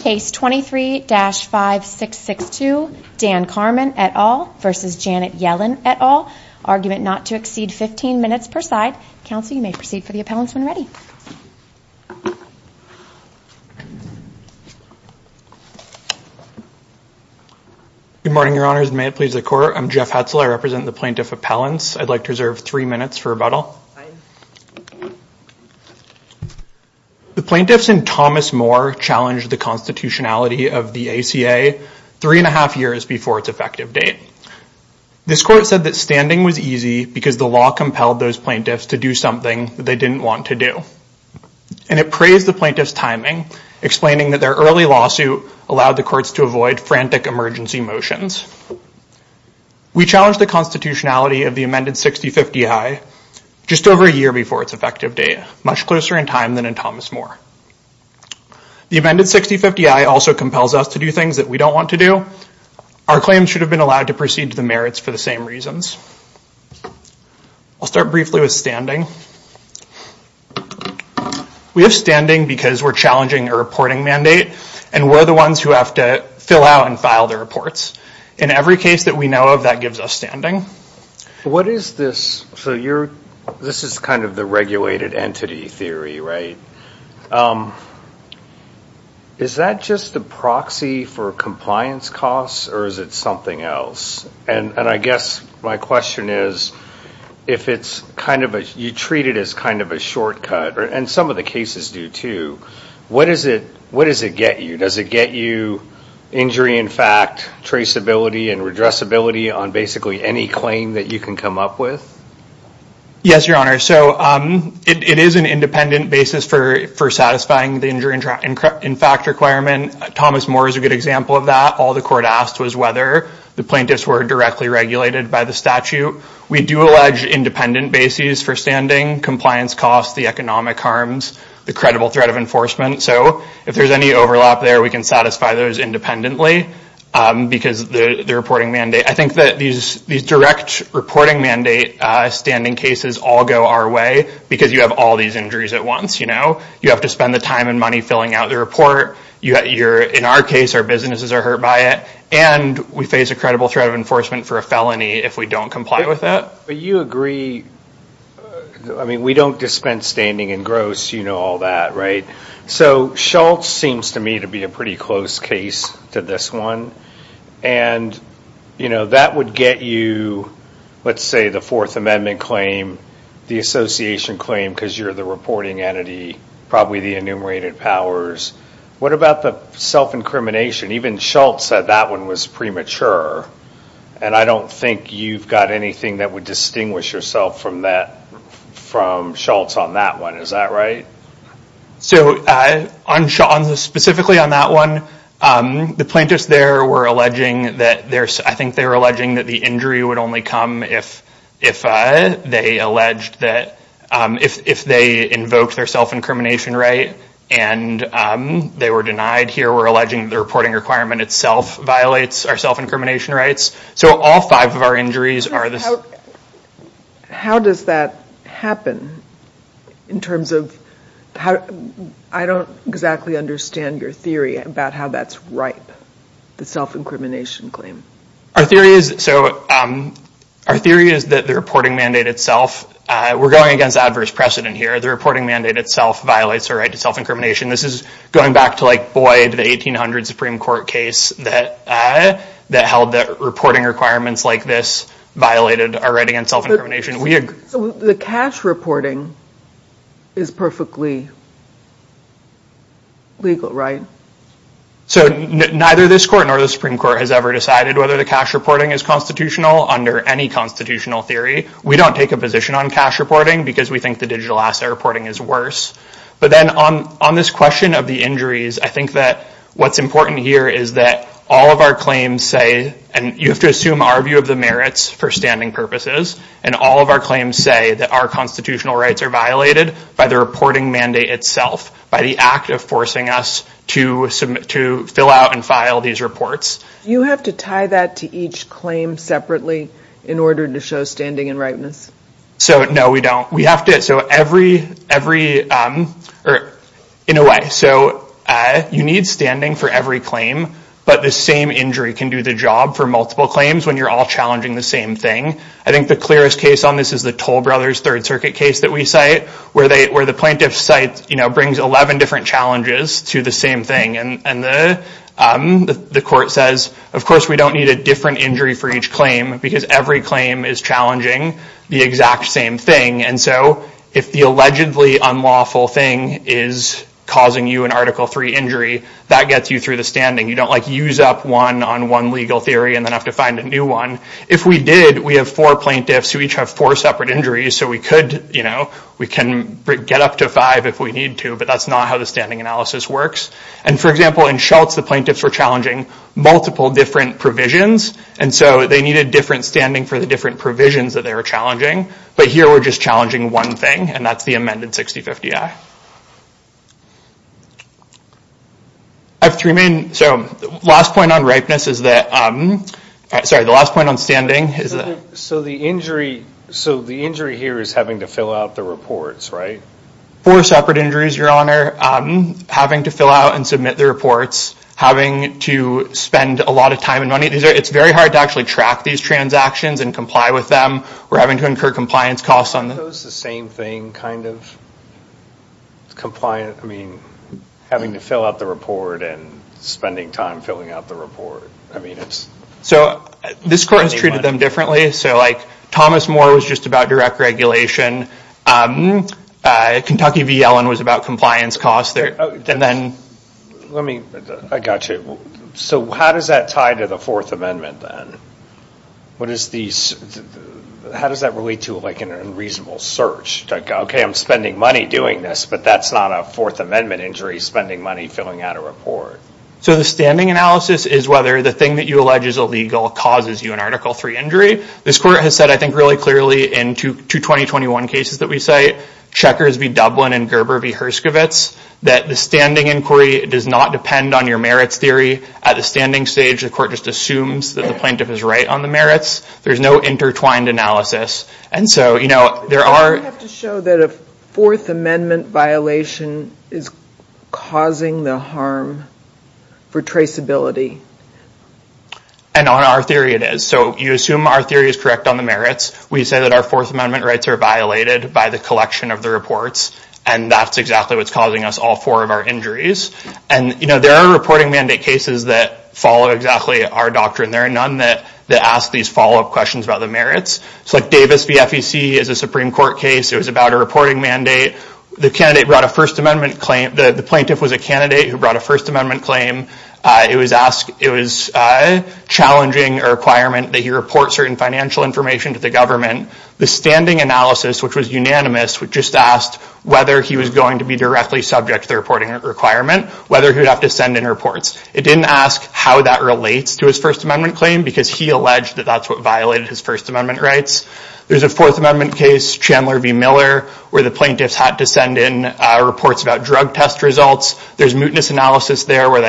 Case 23-5662, Dan Carman et al. v. Janet Yellen et al., argument not to exceed 15 minutes per side. Counsel, you may proceed for the appellants when ready. Good morning, Your Honors. May it please the Court, I'm Jeff Hetzel. I represent the plaintiff appellants. I'd like to reserve three minutes for rebuttal. The plaintiffs and Thomas Moore challenged the constitutionality of the ACA three and a half years before its effective date. This Court said that standing was easy because the law compelled those plaintiffs to do something they didn't want to do. And it praised the plaintiffs' timing, explaining that their early lawsuit allowed the courts to avoid frantic emergency motions. We challenged the constitutionality of the amended 6050I just over a year before its effective date, much closer in time than in Thomas Moore. The amended 6050I also compels us to do things that we don't want to do. Our claims should have been allowed to proceed to the merits for the same reasons. I'll start briefly with standing. We have standing because we're challenging a reporting mandate and we're the ones who have to fill out and file the reports. In every case that we know of, that gives us standing. What is this, so you're, this is kind of the regulated entity theory, right? Is that just a proxy for compliance costs or is it something else? And I guess my question is, if it's kind of a, you treat it as kind of a shortcut, and some of the cases do too, what is it, what does it get you? Does it get you injury in fact, traceability and redressability on basically any claim that you can come up with? Yes, your honor, so it is an independent basis for satisfying the injury in fact requirement. Thomas Moore is a good example of that. All the court asked was whether the plaintiffs were directly regulated by the statute. We do allege independent bases for standing, compliance costs, the economic harms, the credible threat of enforcement. So if there's any overlap there, we can satisfy those independently because the reporting mandate. I think that these direct reporting mandate standing cases all go our way because you have all these injuries at once. You have to spend the time and money filling out the report. You're, in our case, our businesses are hurt by it. And we face a credible threat of enforcement for a felony if we don't comply with that. But you agree, I mean we don't dispense standing in gross, you know all that, right? So, Schultz seems to me to be a pretty close case to this one. And, you know, that would get you, let's say the Fourth Amendment claim, the association claim because you're the reporting entity, probably the enumerated powers. What about the self-incrimination? Even Schultz said that one was premature. And I don't think you've got anything that would distinguish yourself from Schultz on that one, is that right? So, specifically on that one, the plaintiffs there were alleging that there's, I think they were alleging that the injury would only come if they alleged that, if they invoked their self-incrimination right and they were denied. Here we're alleging the reporting requirement itself violates our self-incrimination rights. So all five of our injuries are this. So, how does that happen in terms of, I don't exactly understand your theory about how that's ripe, the self-incrimination claim. Our theory is that the reporting mandate itself, we're going against adverse precedent here. The reporting mandate itself violates our right to self-incrimination. This is going back to like Boyd, the 1800 Supreme Court case that held that reporting requirements like this violated our right against self-incrimination. The cash reporting is perfectly legal, right? So, neither this court nor the Supreme Court has ever decided whether the cash reporting is constitutional under any constitutional theory. We don't take a position on cash reporting because we think the digital asset reporting is worse. But then on this question of the injuries, I think that what's important here is that all of our claims say, and you have to assume our view of the merits for standing purposes, and all of our claims say that our constitutional rights are violated by the reporting mandate itself, by the act of forcing us to fill out and file these reports. Do you have to tie that to each claim separately in order to show standing and ripeness? So, no, we don't. We have to, so every, in a way. So, you need standing for every claim, but the same injury can do the job for multiple claims when you're all challenging the same thing. I think the clearest case on this is the Toll Brothers Third Circuit case that we cite, where the plaintiffs cite, you know, brings 11 different challenges to the same thing. And the court says, of course, we don't need a different injury for each claim because every claim is challenging the exact same thing. And so, if the allegedly unlawful thing is causing you an Article III injury, that gets you through the standing. You don't, like, use up one on one legal theory and then have to find a new one. If we did, we have four plaintiffs who each have four separate injuries, so we could, you know, we can get up to five if we need to, but that's not how the standing analysis works. And, for example, in Schultz, the plaintiffs were challenging multiple different provisions, and so they needed different standing for the different provisions that they were challenging. But here, we're just challenging one thing, and that's the amended 6050-I. I have three main...so, last point on ripeness is that... Sorry, the last point on standing is that... So, the injury here is having to fill out the reports, right? Four separate injuries, Your Honor. Having to fill out and submit the reports. Having to spend a lot of time and money. It's very hard to actually track these transactions and comply with them. We're having to incur compliance costs on them. So, is the same thing, kind of? Compliance...I mean, having to fill out the report and spending time filling out the report. I mean, it's... So, this court has treated them differently. So, like, Thomas Moore was just about direct regulation. Kentucky v. Yellen was about compliance costs. And then... Let me...I got you. So, how does that tie to the Fourth Amendment, then? What is the... How does that relate to, like, an unreasonable search? Like, okay, I'm spending money doing this, but that's not a Fourth Amendment injury, spending money filling out a report. So, the standing analysis is whether the thing that you allege is illegal causes you an Article III injury. This court has said, I think, really clearly in two 2021 cases that we cite, Checkers v. Dublin and Gerber v. Herskovitz, that the standing inquiry does not depend on your merits theory. At the standing stage, the court just assumes that the plaintiff is right on the merits. There's no intertwined analysis. And so, you know, there are... You have to show that a Fourth Amendment violation is causing the harm for traceability. And on our theory, it is. So, you assume our theory is correct on the merits. We say that our Fourth Amendment rights are violated by the collection of the reports, and that's exactly what's causing us all four of our injuries. And, you know, there are reporting mandate cases that follow exactly our doctrine. There are none that ask these follow-up questions about the merits. So, like Davis v. FEC is a Supreme Court case. It was about a reporting mandate. The candidate brought a First Amendment claim. The plaintiff was a candidate who brought a First Amendment claim. It was challenging a requirement that he report certain financial information to the government. The standing analysis, which was unanimous, just asked whether he was going to be directly subject to the reporting requirement, whether he would have to send in reports. It didn't ask how that relates to his First Amendment claim because he alleged that that's what violated his First Amendment rights. There's a Fourth Amendment case, Chandler v. Miller, where the plaintiffs had to send in reports about drug test results. There's mootness analysis there where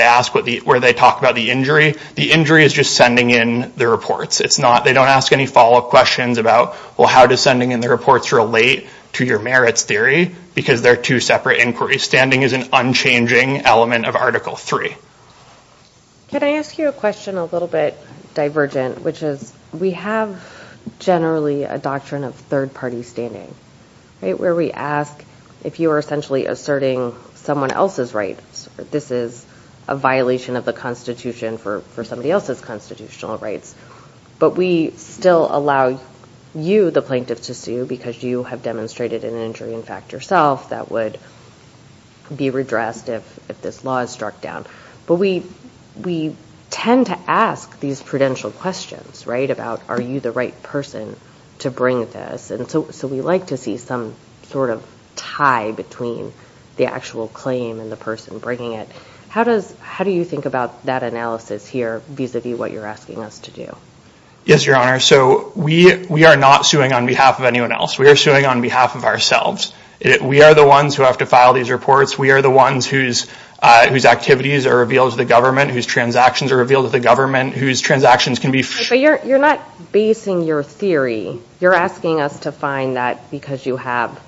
they talk about the injury. The injury is just sending in the reports. They don't ask any follow-up questions about, well, how does sending in the reports relate to your merits theory, because they're two separate inquiries. Standing is an unchanging element of Article III. Can I ask you a question a little bit divergent, which is we have generally a doctrine of third-party standing, right, where we ask if you are essentially asserting someone else's rights. This is a violation of the Constitution for somebody else's constitutional rights. But we still allow you, the plaintiff, to sue because you have demonstrated an injury in fact yourself that would be redressed if this law is struck down. But we tend to ask these prudential questions, right, about are you the right person to bring this. And so we like to see some sort of tie between the actual claim and the person bringing it. How do you think about that analysis here vis-à-vis what you're asking us to do? Yes, Your Honor. So we are not suing on behalf of anyone else. We are suing on behalf of ourselves. We are the ones who have to file these reports. We are the ones whose activities are revealed to the government, whose transactions are revealed to the government, whose transactions can be filed. But you're not basing your theory. You're asking us to find that because you have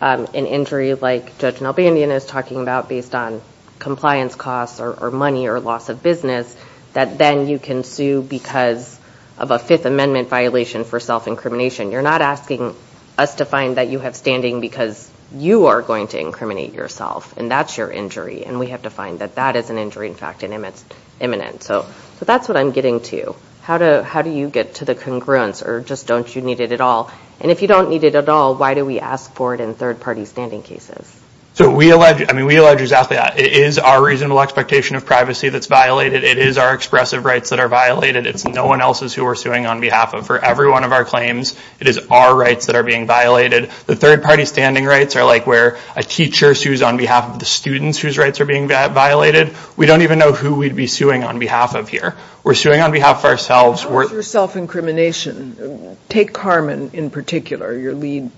an injury like Judge Nelbandian is talking about based on compliance costs or money or loss of business that then you can sue because of a Fifth Amendment violation for self-incrimination. You're not asking us to find that you have standing because you are going to incriminate yourself. And that's your injury. And we have to find that that is an injury in fact and it's imminent. So that's what I'm getting to. How do you get to the congruence or just don't you need it at all? And if you don't need it at all, why do we ask for it in third-party standing cases? We allege exactly that. It is our reasonable expectation of privacy that's violated. It is our expressive rights that are violated. It's no one else's who we're suing on behalf of. For every one of our claims, it is our rights that are being violated. The third-party standing rights are like where a teacher sues on behalf of the students whose rights are being violated. We don't even know who we'd be suing on behalf of here. We're suing on behalf of ourselves. How is your self-incrimination? Take Carmen in particular, your lead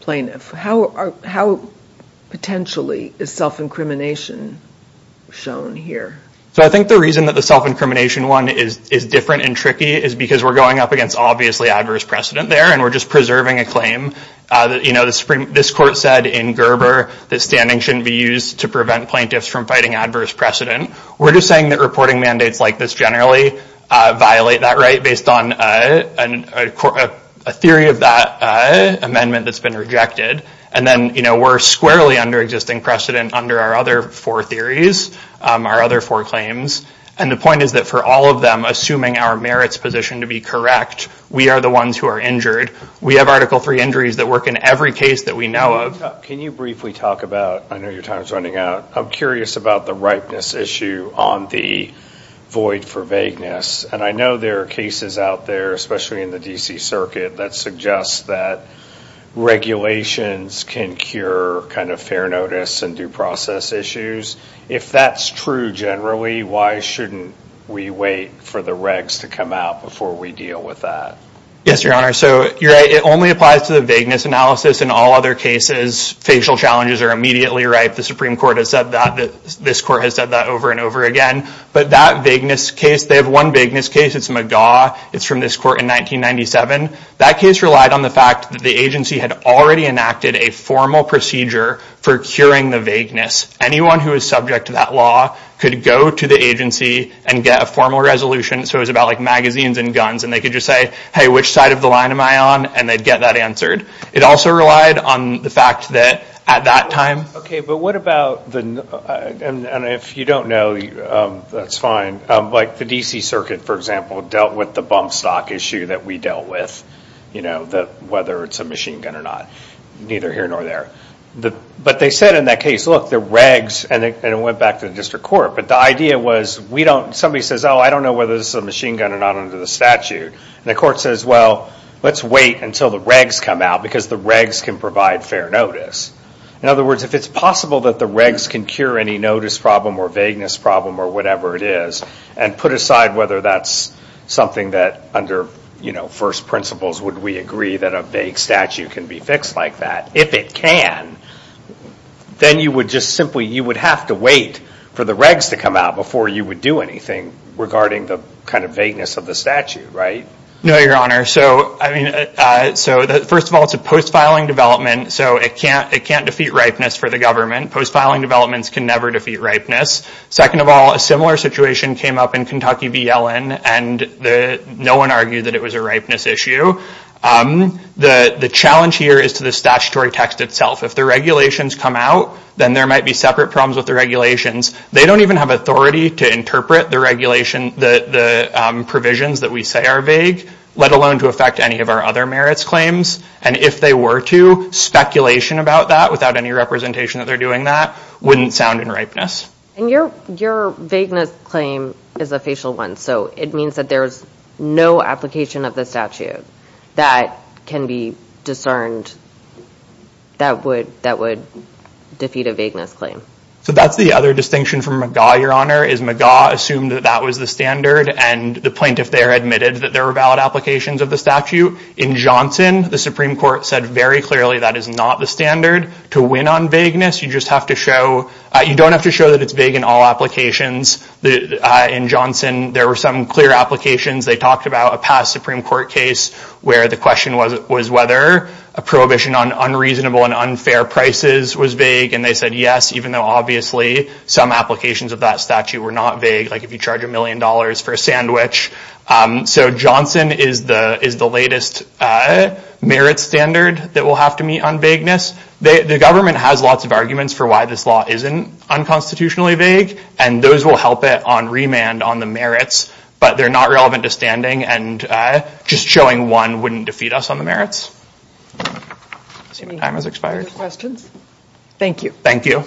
plaintiff. How potentially is self-incrimination shown here? I think the reason that the self-incrimination one is different and tricky is because we're going up against obviously adverse precedent there and we're just preserving a claim. This court said in Gerber that standing shouldn't be used to prevent plaintiffs from fighting adverse precedent. We're just saying that reporting mandates like this generally violate that right based on a theory of that amendment that's been rejected. Then we're squarely under existing precedent under our other four theories, our other four claims. The point is that for all of them, assuming our merits position to be correct, we are the ones who are injured. We have Article III injuries that work in every case that we know of. Can you briefly talk about, I know your time is running out, but I'm curious about the ripeness issue on the void for vagueness. I know there are cases out there, especially in the D.C. Circuit, that suggest that regulations can cure kind of fair notice and due process issues. If that's true generally, why shouldn't we wait for the regs to come out before we deal with that? Yes, Your Honor. You're right. It only applies to the vagueness analysis. In all other cases, facial challenges are immediately right. The Supreme Court has said that. This court has said that over and over again. But that vagueness case, they have one vagueness case. It's McGaw. It's from this court in 1997. That case relied on the fact that the agency had already enacted a formal procedure for curing the vagueness. Anyone who is subject to that law could go to the agency and get a formal resolution. It was about magazines and guns. They could just say, hey, which side of the line am I on? They'd get that answered. It also relied on the fact that at that time... Okay, but what about the... And if you don't know, that's fine. Like the D.C. Circuit, for example, dealt with the bump stock issue that we dealt with, whether it's a machine gun or not. Neither here nor there. But they said in that case, look, the regs... And it went back to the district court. But the idea was somebody says, oh, I don't know whether this is a machine gun or not under the statute. And the court says, well, let's wait until the regs come out because the regs can provide fair notice. In other words, if it's possible that the regs can cure any notice problem or vagueness problem or whatever it is and put aside whether that's something that under first principles, would we agree that a vague statute can be fixed like that? If it can, then you would just simply... You would have to wait for the regs to come out before you would do anything regarding the kind of vagueness of the statute, right? No, Your Honor. So, first of all, it's a post-filing development. So it can't defeat ripeness for the government. Post-filing developments can never defeat ripeness. Second of all, a similar situation came up in Kentucky v. Yellen. And no one argued that it was a ripeness issue. The challenge here is to the statutory text itself. If the regulations come out, then there might be separate problems with the regulations. They don't even have authority to interpret the regulation, the provisions that we say are vague, let alone to affect any of our other merits claims. And if they were to, speculation about that, without any representation that they're doing that, wouldn't sound in ripeness. And your vagueness claim is a facial one. So it means that there's no application of the statute that can be discerned that would defeat a vagueness claim. So that's the other distinction from McGaw, Your Honor, is McGaw assumed that that was the standard and the plaintiff there admitted that there were valid applications of the statute. In Johnson, the Supreme Court said very clearly that is not the standard to win on vagueness. You don't have to show that it's vague in all applications. In Johnson, there were some clear applications. They talked about a past Supreme Court case where the question was whether a prohibition on unreasonable and unfair prices was vague. And they said yes, even though obviously some applications of that statute were not vague, like if you charge a million dollars for a sandwich. So Johnson is the latest merit standard that we'll have to meet on vagueness. The government has lots of arguments for why this law isn't unconstitutionally vague, and those will help it on remand on the merits, but they're not relevant to standing and just showing one wouldn't defeat us on the merits. Time has expired. Thank you. Thank you.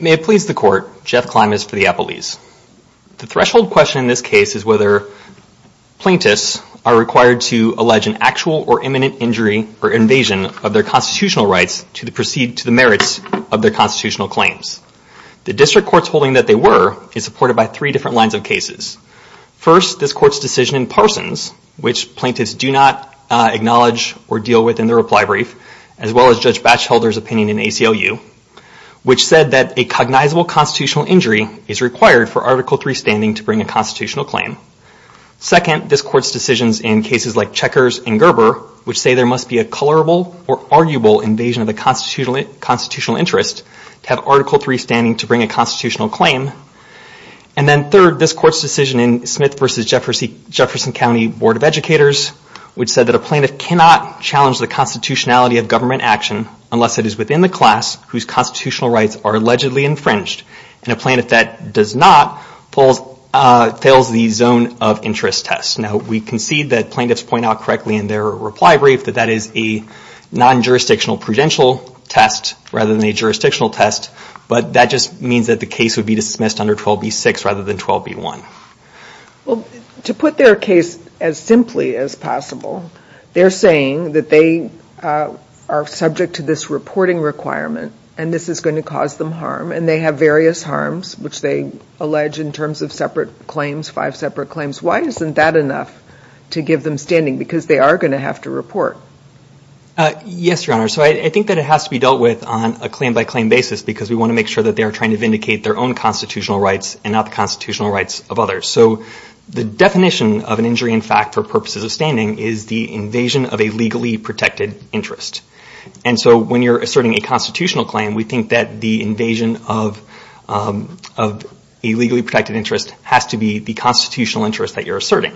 May it please the Court, Jeff Klimas for the Appellees. The threshold question in this case is whether plaintiffs are required to allege an actual or imminent injury or invasion of their constitutional rights to the merits of their constitutional claims. The district court's holding that they were is supported by three different lines of cases. First, this Court's decision in Parsons, which plaintiffs do not acknowledge or deal with in their reply brief, as well as Judge Batchelder's opinion in ACLU, which said that a cognizable constitutional injury is required for Article III standing to bring a constitutional claim. Second, this Court's decisions in cases like Checkers and Gerber, which say there must be a colorable or arguable invasion of the constitutional interest to have Article III standing to bring a constitutional claim. And then third, this Court's decision in Smith v. Jefferson County Board of Educators, which said that a plaintiff cannot challenge the constitutionality of government action unless it is within the class whose constitutional rights are allegedly infringed, and a plaintiff that does not fails the zone of interest test. Now, we concede that plaintiffs point out correctly in their reply brief that that is a non-jurisdictional prudential test rather than a jurisdictional test, but that just means that the case would be dismissed under 12b-6 rather than 12b-1. Well, to put their case as simply as possible, they're saying that they are subject to this reporting requirement, and this is going to cause them harm, and they have various harms, which they allege in terms of separate claims, five separate claims. Why isn't that enough to give them standing? Because they are going to have to report. Yes, Your Honor, so I think that it has to be dealt with on a claim-by-claim basis because we want to make sure that they are trying to vindicate their own constitutional rights and not the constitutional rights of others. So the definition of an injury in fact for purposes of standing is the invasion of a legally protected interest. And so when you're asserting a constitutional claim, we think that the invasion of a legally protected interest has to be the constitutional interest that you're asserting.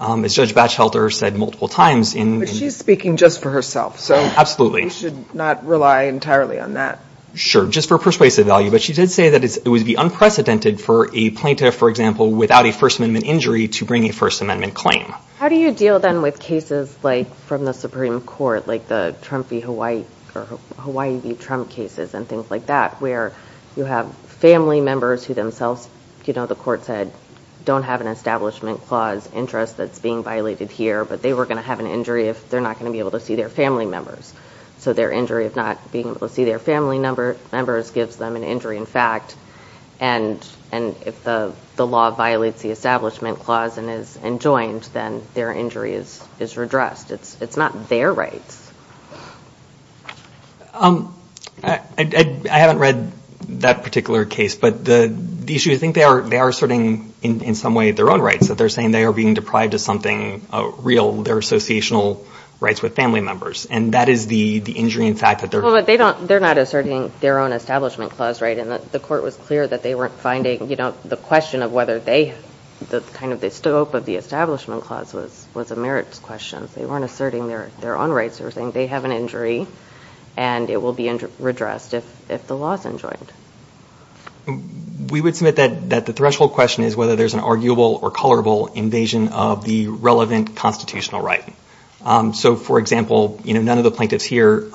As Judge Batchelder said multiple times in... But she's speaking just for herself, so... You should not rely entirely on that. Sure, just for persuasive value. But she did say that it would be unprecedented for a plaintiff, for example, without a First Amendment injury to bring a First Amendment claim. How do you deal then with cases like from the Supreme Court, like the Trump v. Hawaii, or Hawaii v. Trump cases and things like that, where you have family members who themselves, you know, the court said, don't have an establishment clause interest that's being violated here, but they were going to have an injury if they're not going to be able to see their family members. So their injury of not being able to see their family members gives them an injury in fact. And if the law violates the establishment clause and is enjoined, then their injury is redressed. It's not their rights. I haven't read that particular case, but the issue, I think they are asserting in some way their own rights, that they're saying they are being deprived of something real, their associational rights with family members. And that is the injury in fact that they're... Well, but they're not asserting their own establishment clause, right? And the court was clear that they weren't finding, you know, the question of whether they, kind of the scope of the establishment clause was a merits question. They weren't asserting their own rights. They were saying they have an injury and it will be redressed if the law is enjoined. We would submit that the threshold question is whether there's an arguable or colorable invasion of the relevant constitutional right. So, for example, you know, none of the plaintiffs here,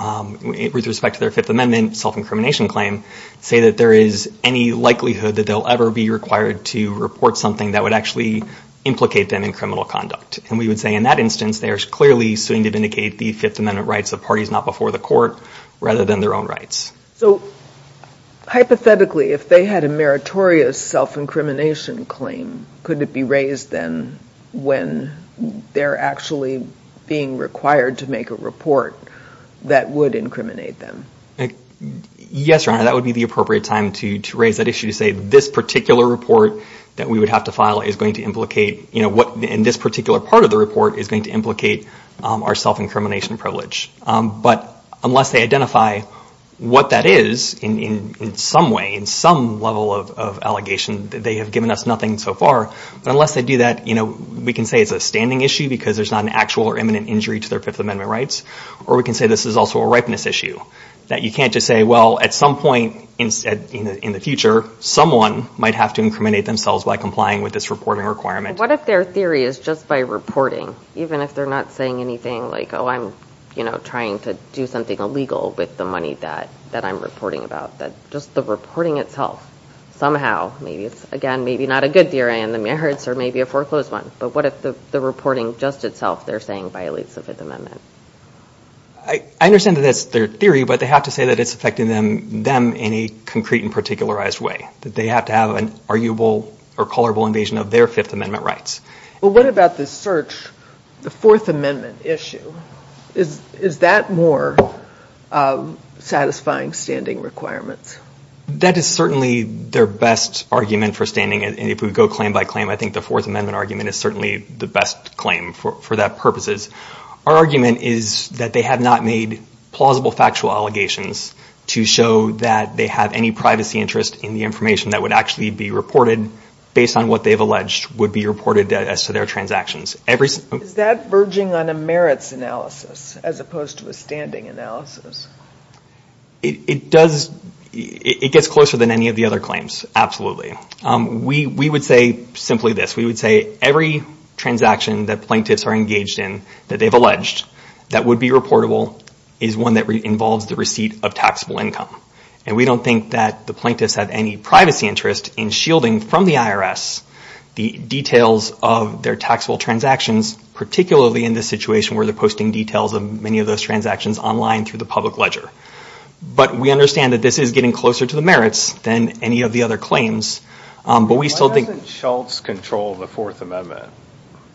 with respect to their Fifth Amendment self-incrimination claim, say that there is any likelihood that they'll ever be required to report something that would actually implicate them in criminal conduct. And we would say in that instance, they are clearly suing to vindicate the Fifth Amendment rights of parties not before the court rather than their own rights. So, hypothetically, if they had a meritorious self-incrimination claim, could it be raised then when they're actually being required to make a report that would incriminate them? Yes, Your Honor, that would be the appropriate time to raise that issue to say this particular report that we would have to file is going to implicate, you know, what in this particular part of the report is going to implicate our self-incrimination privilege. But unless they identify what that is in some way, in some level of allegation, they have given us nothing so far. But unless they do that, you know, we can say it's a standing issue because there's not an actual or imminent injury to their Fifth Amendment rights. Or we can say this is also a ripeness issue, that you can't just say, well, at some point in the future, someone might have to incriminate themselves by complying with this reporting requirement. What if their theory is just by reporting, even if they're not saying anything like, oh, I'm, you know, trying to do something illegal with the money that I'm reporting about, that just the reporting itself somehow, maybe it's, again, maybe not a good theory in the merits or maybe a foreclosed one, but what if the reporting just itself, they're saying violates the Fifth Amendment? I understand that that's their theory, but they have to say that it's affecting them in a concrete and particularized way, that they have to have an arguable or colorable invasion of their Fifth Amendment rights. Well, what about the search, the Fourth Amendment issue? Is that more satisfying standing requirements? That is certainly their best argument for standing, and if we go claim by claim, I think the Fourth Amendment argument is certainly the best claim for that purposes. Our argument is that they have not made plausible factual allegations to show that they have any privacy interest in the information that would actually be reported based on what they've alleged would be reported as to their transactions. Is that verging on a merits analysis as opposed to a standing analysis? It gets closer than any of the other claims, absolutely. We would say simply this, we would say every transaction that plaintiffs are engaged in that they've alleged that would be reportable is one that involves the receipt of taxable income, and we don't think that the plaintiffs have any privacy interest in shielding from the IRS the details of their taxable transactions, particularly in this situation where they're posting details of many of those transactions online through the public ledger. But we understand that this is getting closer to the merits than any of the other claims, but we still think... Why doesn't Schultz control the Fourth Amendment?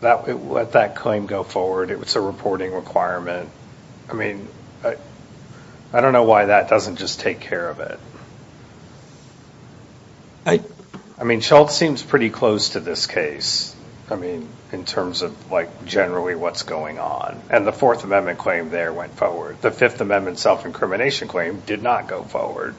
Let that claim go forward. It's a reporting requirement. I mean, I don't know why that doesn't just take care of it. I mean, Schultz seems pretty close to this case, I mean, in terms of, like, generally what's going on, and the Fourth Amendment claim there went forward. The Fifth Amendment self-incrimination claim did not go forward.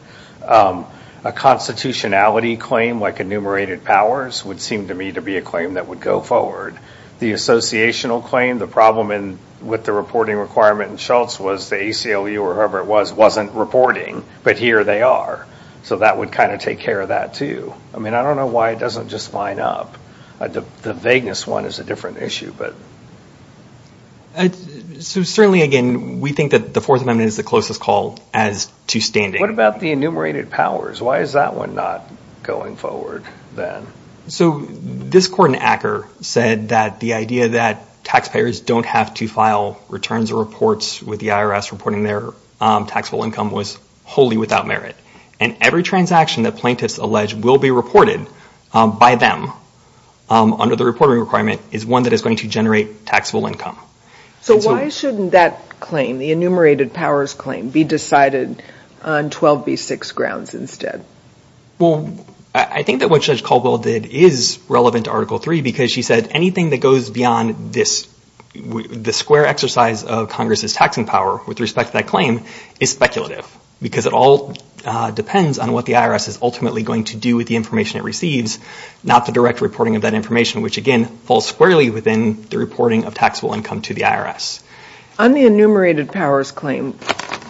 A constitutionality claim, like enumerated powers, would seem to me to be a claim that would go forward. The associational claim, the problem with the reporting requirement in Schultz was the ACLU or whoever it was wasn't reporting, but here they are. So that would kind of take care of that, too. I mean, I don't know why it doesn't just line up. The vagueness one is a different issue, but... So certainly, again, we think that the Fourth Amendment is the closest call as to standing. What about the enumerated powers? Why is that one not going forward then? So this court in Acker said that the idea that taxpayers don't have to file returns or reports with the IRS reporting their taxable income was wholly without merit, and every transaction that plaintiffs allege will be reported by them under the reporting requirement is one that is going to generate taxable income. So why shouldn't that claim, the enumerated powers claim, be decided on 12b-6 grounds instead? Well, I think that what Judge Caldwell did is relevant to Article III because she said anything that goes beyond the square exercise of Congress's taxing power with respect to that claim is speculative because it all depends on what the IRS is ultimately going to do with the information it receives, not the direct reporting of that information, which, again, falls squarely within the reporting of taxable income to the IRS. On the enumerated powers claim,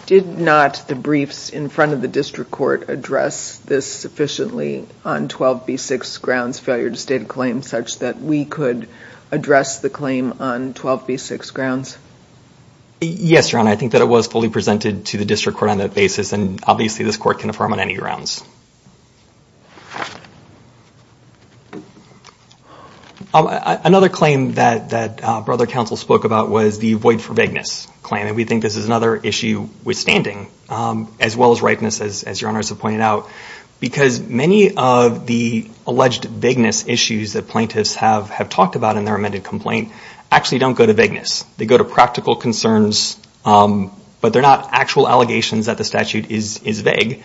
did not the briefs in front of the district court address this sufficiently on 12b-6 grounds, failure to state a claim, such that we could address the claim on 12b-6 grounds? Yes, Your Honor. I think that it was fully presented to the district court on that basis, and obviously this court can affirm on any grounds. Another claim that Brother Counsel spoke about was the void for vagueness claim, and we think this is another issue withstanding, as well as ripeness, as Your Honors have pointed out, because many of the alleged vagueness issues that plaintiffs have talked about in their amended complaint actually don't go to vagueness. They go to practical concerns, but they're not actual allegations that the statute is vague.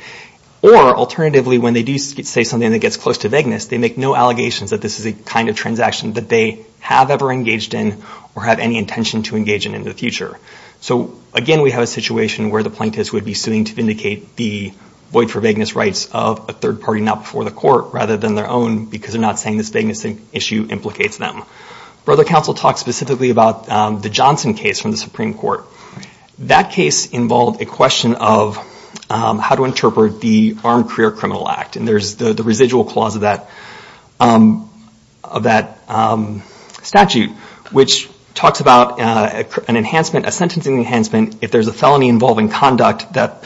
Or, alternatively, when they do say something that gets close to vagueness, they make no allegations that this is a kind of transaction that they have ever engaged in or have any intention to engage in in the future. So, again, we have a situation where the plaintiffs would be suing to vindicate the void for vagueness rights of a third party not before the court rather than their own because they're not saying this vagueness issue implicates them. Brother Counsel talked specifically about the Johnson case from the Supreme Court. That case involved a question of how to interpret the Armed Career Criminal Act, and there's the residual clause of that statute, which talks about an enhancement, a sentencing enhancement, if there's a felony involving conduct that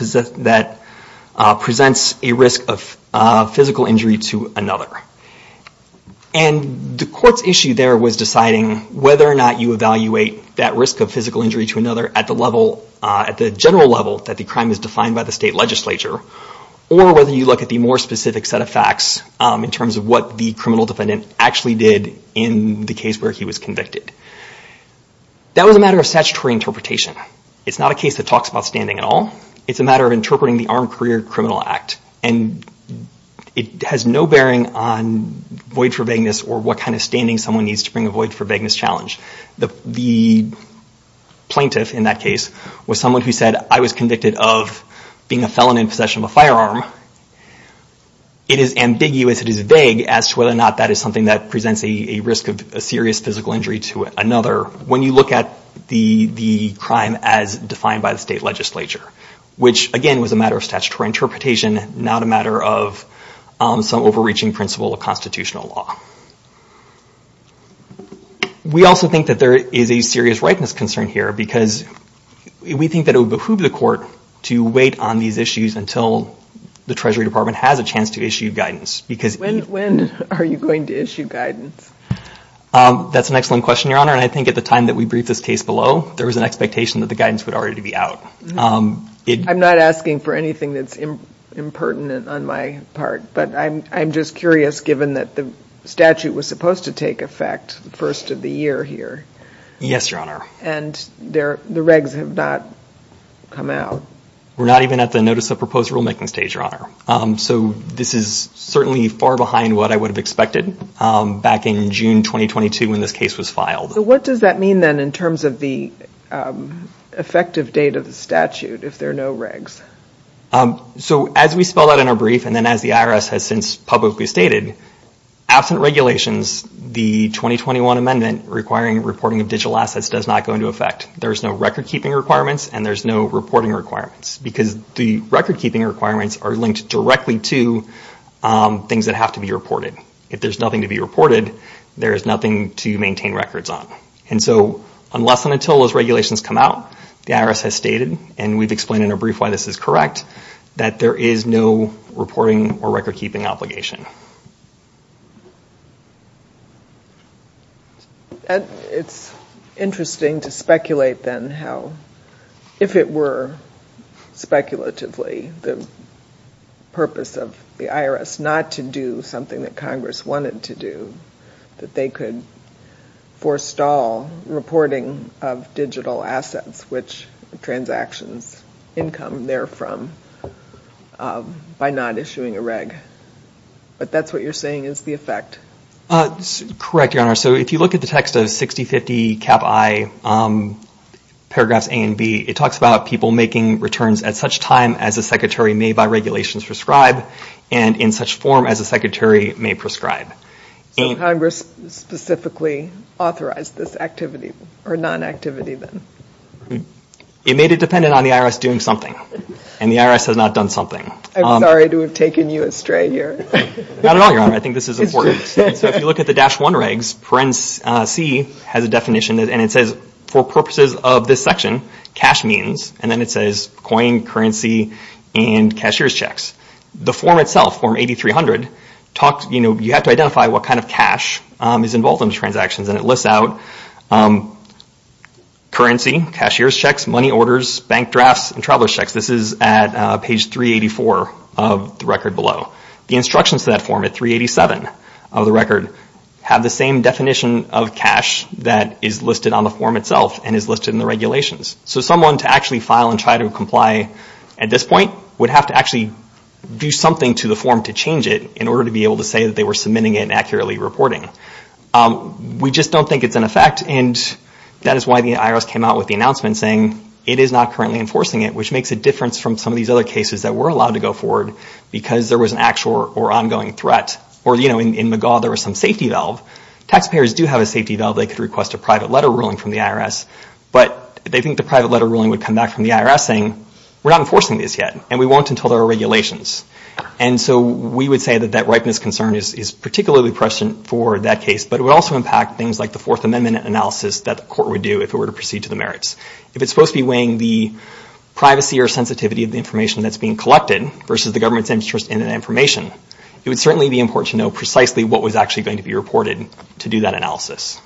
presents a risk of physical injury to another. And the court's issue there was deciding whether or not you evaluate that risk of physical injury to another at the general level that the crime is defined by the state legislature or whether you look at the more specific set of facts in terms of what the criminal defendant actually did in the case where he was convicted. That was a matter of statutory interpretation. It's not a case that talks about standing at all. It's a matter of interpreting the Armed Career Criminal Act, and it has no bearing on void for vagueness or what kind of standing someone needs to bring a void for vagueness challenge. The plaintiff in that case was someone who said, I was convicted of being a felon in possession of a firearm. It is ambiguous, it is vague, as to whether or not that is something that presents a risk of a serious physical injury to another when you look at the crime as defined by the state legislature, which, again, was a matter of statutory interpretation, not a matter of some overreaching principle of constitutional law. We also think that there is a serious rightness concern here because we think that it would behoove the court to wait on these issues until the Treasury Department has a chance to issue guidance. When are you going to issue guidance? That's an excellent question, Your Honor, and I think at the time that we briefed this case below, there was an expectation that the guidance would already be out. I'm not asking for anything that's impertinent on my part, but I'm just curious, given that the statute was supposed to take effect the first of the year here. Yes, Your Honor. And the regs have not come out. We're not even at the notice of proposed rulemaking stage, Your Honor. So this is certainly far behind what I would have expected back in June 2022 when this case was filed. So what does that mean, then, in terms of the effective date of the statute if there are no regs? So as we spelled out in our brief and then as the IRS has since publicly stated, absent regulations, the 2021 amendment requiring reporting of digital assets does not go into effect. There's no record-keeping requirements and there's no reporting requirements because the record-keeping requirements are linked directly to things that have to be reported. If there's nothing to be reported, there's nothing to maintain records on. And so unless and until those regulations come out, the IRS has stated, and we've explained in our brief why this is correct, that there is no reporting or record-keeping obligation. It's interesting to speculate, then, how if it were speculatively the purpose of the IRS not to do something that Congress wanted to do, that they could forestall reporting of digital assets, which transactions income therefrom by not issuing a reg. But that's what you're saying is the effect. Correct, Your Honor. So if you look at the text of 6050 Cap I, paragraphs A and B, it talks about people making returns at such time as the Secretary may by regulations prescribe and in such form as the Secretary may prescribe. So Congress specifically authorized this activity or non-activity, then? It made it dependent on the IRS doing something and the IRS has not done something. I'm sorry to have taken you astray here. Not at all, Your Honor. I think this is important. So if you look at the dash one regs, parens C has a definition and it says for purposes of this section, cash means, and then it says coin, currency, and cashier's checks. The form itself, form 8300, you have to identify what kind of cash is involved in these transactions and it lists out currency, cashier's checks, money orders, bank drafts, and traveler's checks. This is at page 384 of the record below. The instructions to that form at 387 of the record have the same definition of cash that is listed on the form itself and is listed in the regulations. So someone to actually file and try to comply at this point would have to actually do something to the form to change it in order to be able to say that they were submitting it and accurately reporting. We just don't think it's in effect and that is why the IRS came out with the announcement saying it is not currently enforcing it, which makes a difference from some of these other cases that were allowed to go forward because there was an actual or ongoing threat. Or, you know, in McGaugh there was some safety valve. Taxpayers do have a safety valve. They could request a private letter ruling from the IRS, but they think the private letter ruling would come back from the IRS saying, we're not enforcing this yet and we won't until there are regulations. And so we would say that that ripeness concern is particularly prescient for that case, but it would also impact things like the Fourth Amendment analysis that the court would do if it were to proceed to the merits. If it's supposed to be weighing the privacy or sensitivity of the information that's being collected versus the government's interest in that information, it would certainly be important to know precisely what was actually going to be reported to do that analysis.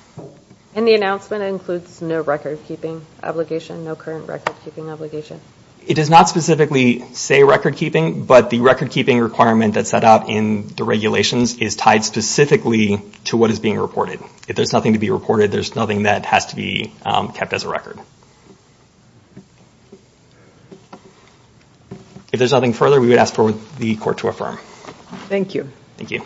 And the announcement includes no record-keeping obligation, no current record-keeping obligation? It does not specifically say record-keeping, but the record-keeping requirement that's set out in the regulations is tied specifically to what is being reported. If there's nothing to be reported, there's nothing that has to be kept as a record. If there's nothing further, we would ask for the court to affirm. Thank you. Thank you.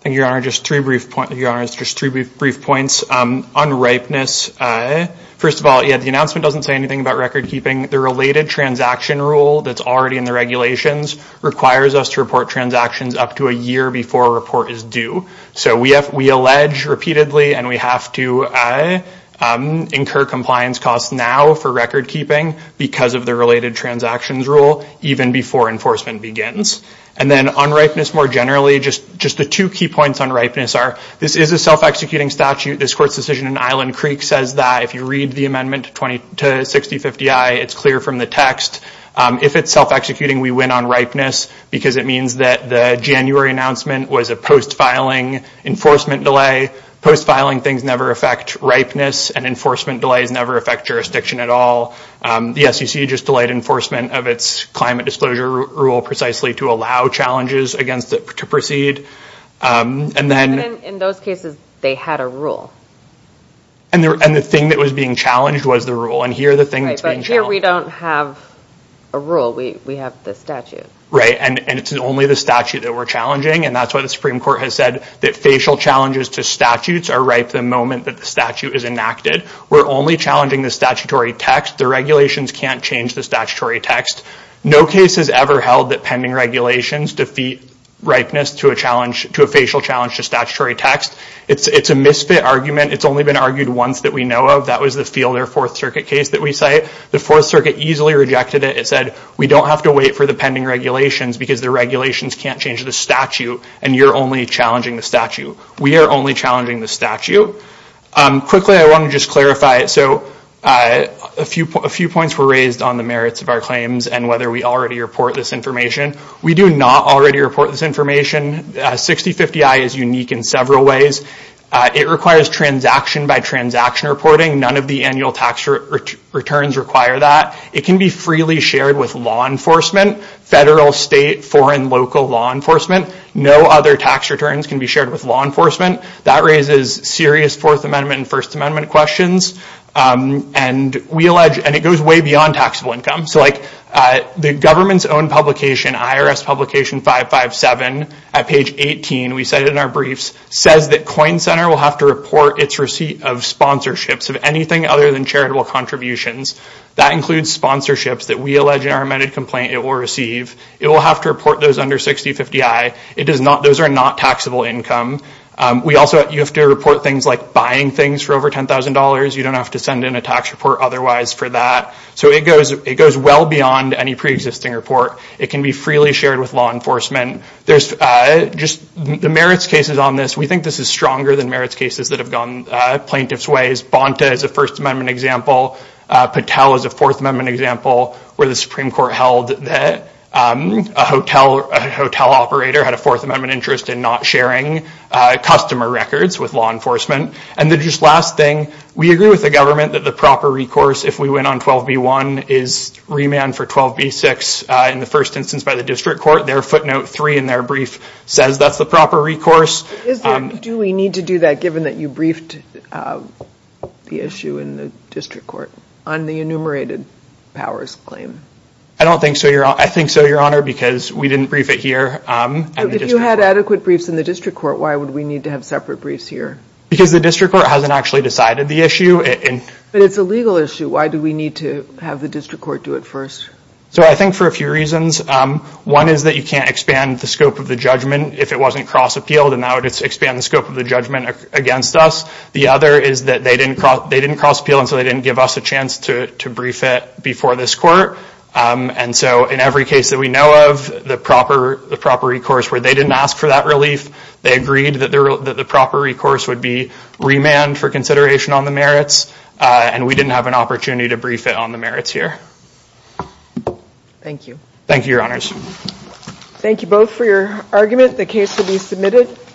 Thank you, Your Honor. Just three brief points. On ripeness, first of all, the announcement doesn't say anything about record-keeping. The related transaction rule that's already in the regulations requires us to report transactions up to a year before a report is due. So we allege repeatedly, and we have to incur compliance costs now for record-keeping because of the related transactions rule even before enforcement begins. And then on ripeness more generally, just the two key points on ripeness are this is a self-executing statute. This court's decision in Island Creek says that if you read the amendment 20 to 6050I, it's clear from the text. If it's self-executing, we win on ripeness because it means that the January announcement was a post-filing enforcement delay. Post-filing things never affect ripeness, and enforcement delays never affect jurisdiction at all. The SEC just delayed enforcement of its climate disclosure rule precisely to allow challenges against it to proceed. And then... In those cases, they had a rule. And the thing that was being challenged was the rule. And here the thing that's being challenged... Right, but here we don't have a rule. We have the statute. Right, and it's only the statute that we're challenging. And that's why the Supreme Court has said that facial challenges to statutes are ripe the moment that the statute is enacted. We're only challenging the statutory text. The regulations can't change the statutory text. No case has ever held that pending regulations defeat ripeness to a facial challenge to statutory text. It's a misfit argument. It's only been argued once that we know of. That was the Fielder Fourth Circuit case that we cite. The Fourth Circuit easily rejected it. It said, we don't have to wait for the pending regulations because the regulations can't change the statute, and you're only challenging the statute. We are only challenging the statute. Quickly, I want to just clarify. So, a few points were raised on the merits of our claims and whether we already report this information. We do not already report this information. 6050-I is unique in several ways. It requires transaction-by-transaction reporting. None of the annual tax returns require that. It can be freely shared with law enforcement, federal, state, foreign, local law enforcement. No other tax returns can be shared with law enforcement. That raises serious Fourth Amendment and First Amendment questions, and it goes way beyond taxable income. So, the government's own publication, IRS Publication 557, at page 18, we cite it in our briefs, says that Coin Center will have to report its receipt of sponsorships of anything other than charitable contributions. That includes sponsorships that we allege in our amended complaint it will receive. It will have to report those under 6050-I. Those are not taxable income. You have to report things like buying things for over $10,000. You don't have to send in a tax report otherwise for that. So, it goes well beyond any preexisting report. It can be freely shared with law enforcement. The merits cases on this, we think this is stronger than merits cases that have gone plaintiff's ways. Bonta is a First Amendment example. Patel is a Fourth Amendment example where the Supreme Court held that a hotel operator had a Fourth Amendment interest in not sharing customer records with law enforcement. And the just last thing, we agree with the government that the proper recourse, if we went on 12b-1, is remand for 12b-6 in the first instance by the District Court. Their footnote three in their brief says that's the proper recourse. Do we need to do that, given that you briefed the issue in the District Court on the enumerated powers claim? I don't think so, Your Honor. I think so, Your Honor, because we didn't brief it here. If you had adequate briefs in the District Court, why would we need to have separate briefs here? Because the District Court hasn't actually decided the issue. But it's a legal issue. Why do we need to have the District Court do it first? So, I think for a few reasons. One is that you can't expand the scope of the judgment if it wasn't cross-appealed and that would expand the scope of the judgment against us. The other is that they didn't cross-appeal until they didn't give us a chance to brief it before this Court. And so, in every case that we know of, the proper recourse where they didn't ask for that relief, they agreed that the proper recourse would be remanded for consideration on the merits and we didn't have an opportunity to brief it on the merits here. Thank you. Thank you, Your Honors. Thank you both for your argument. The case will be submitted.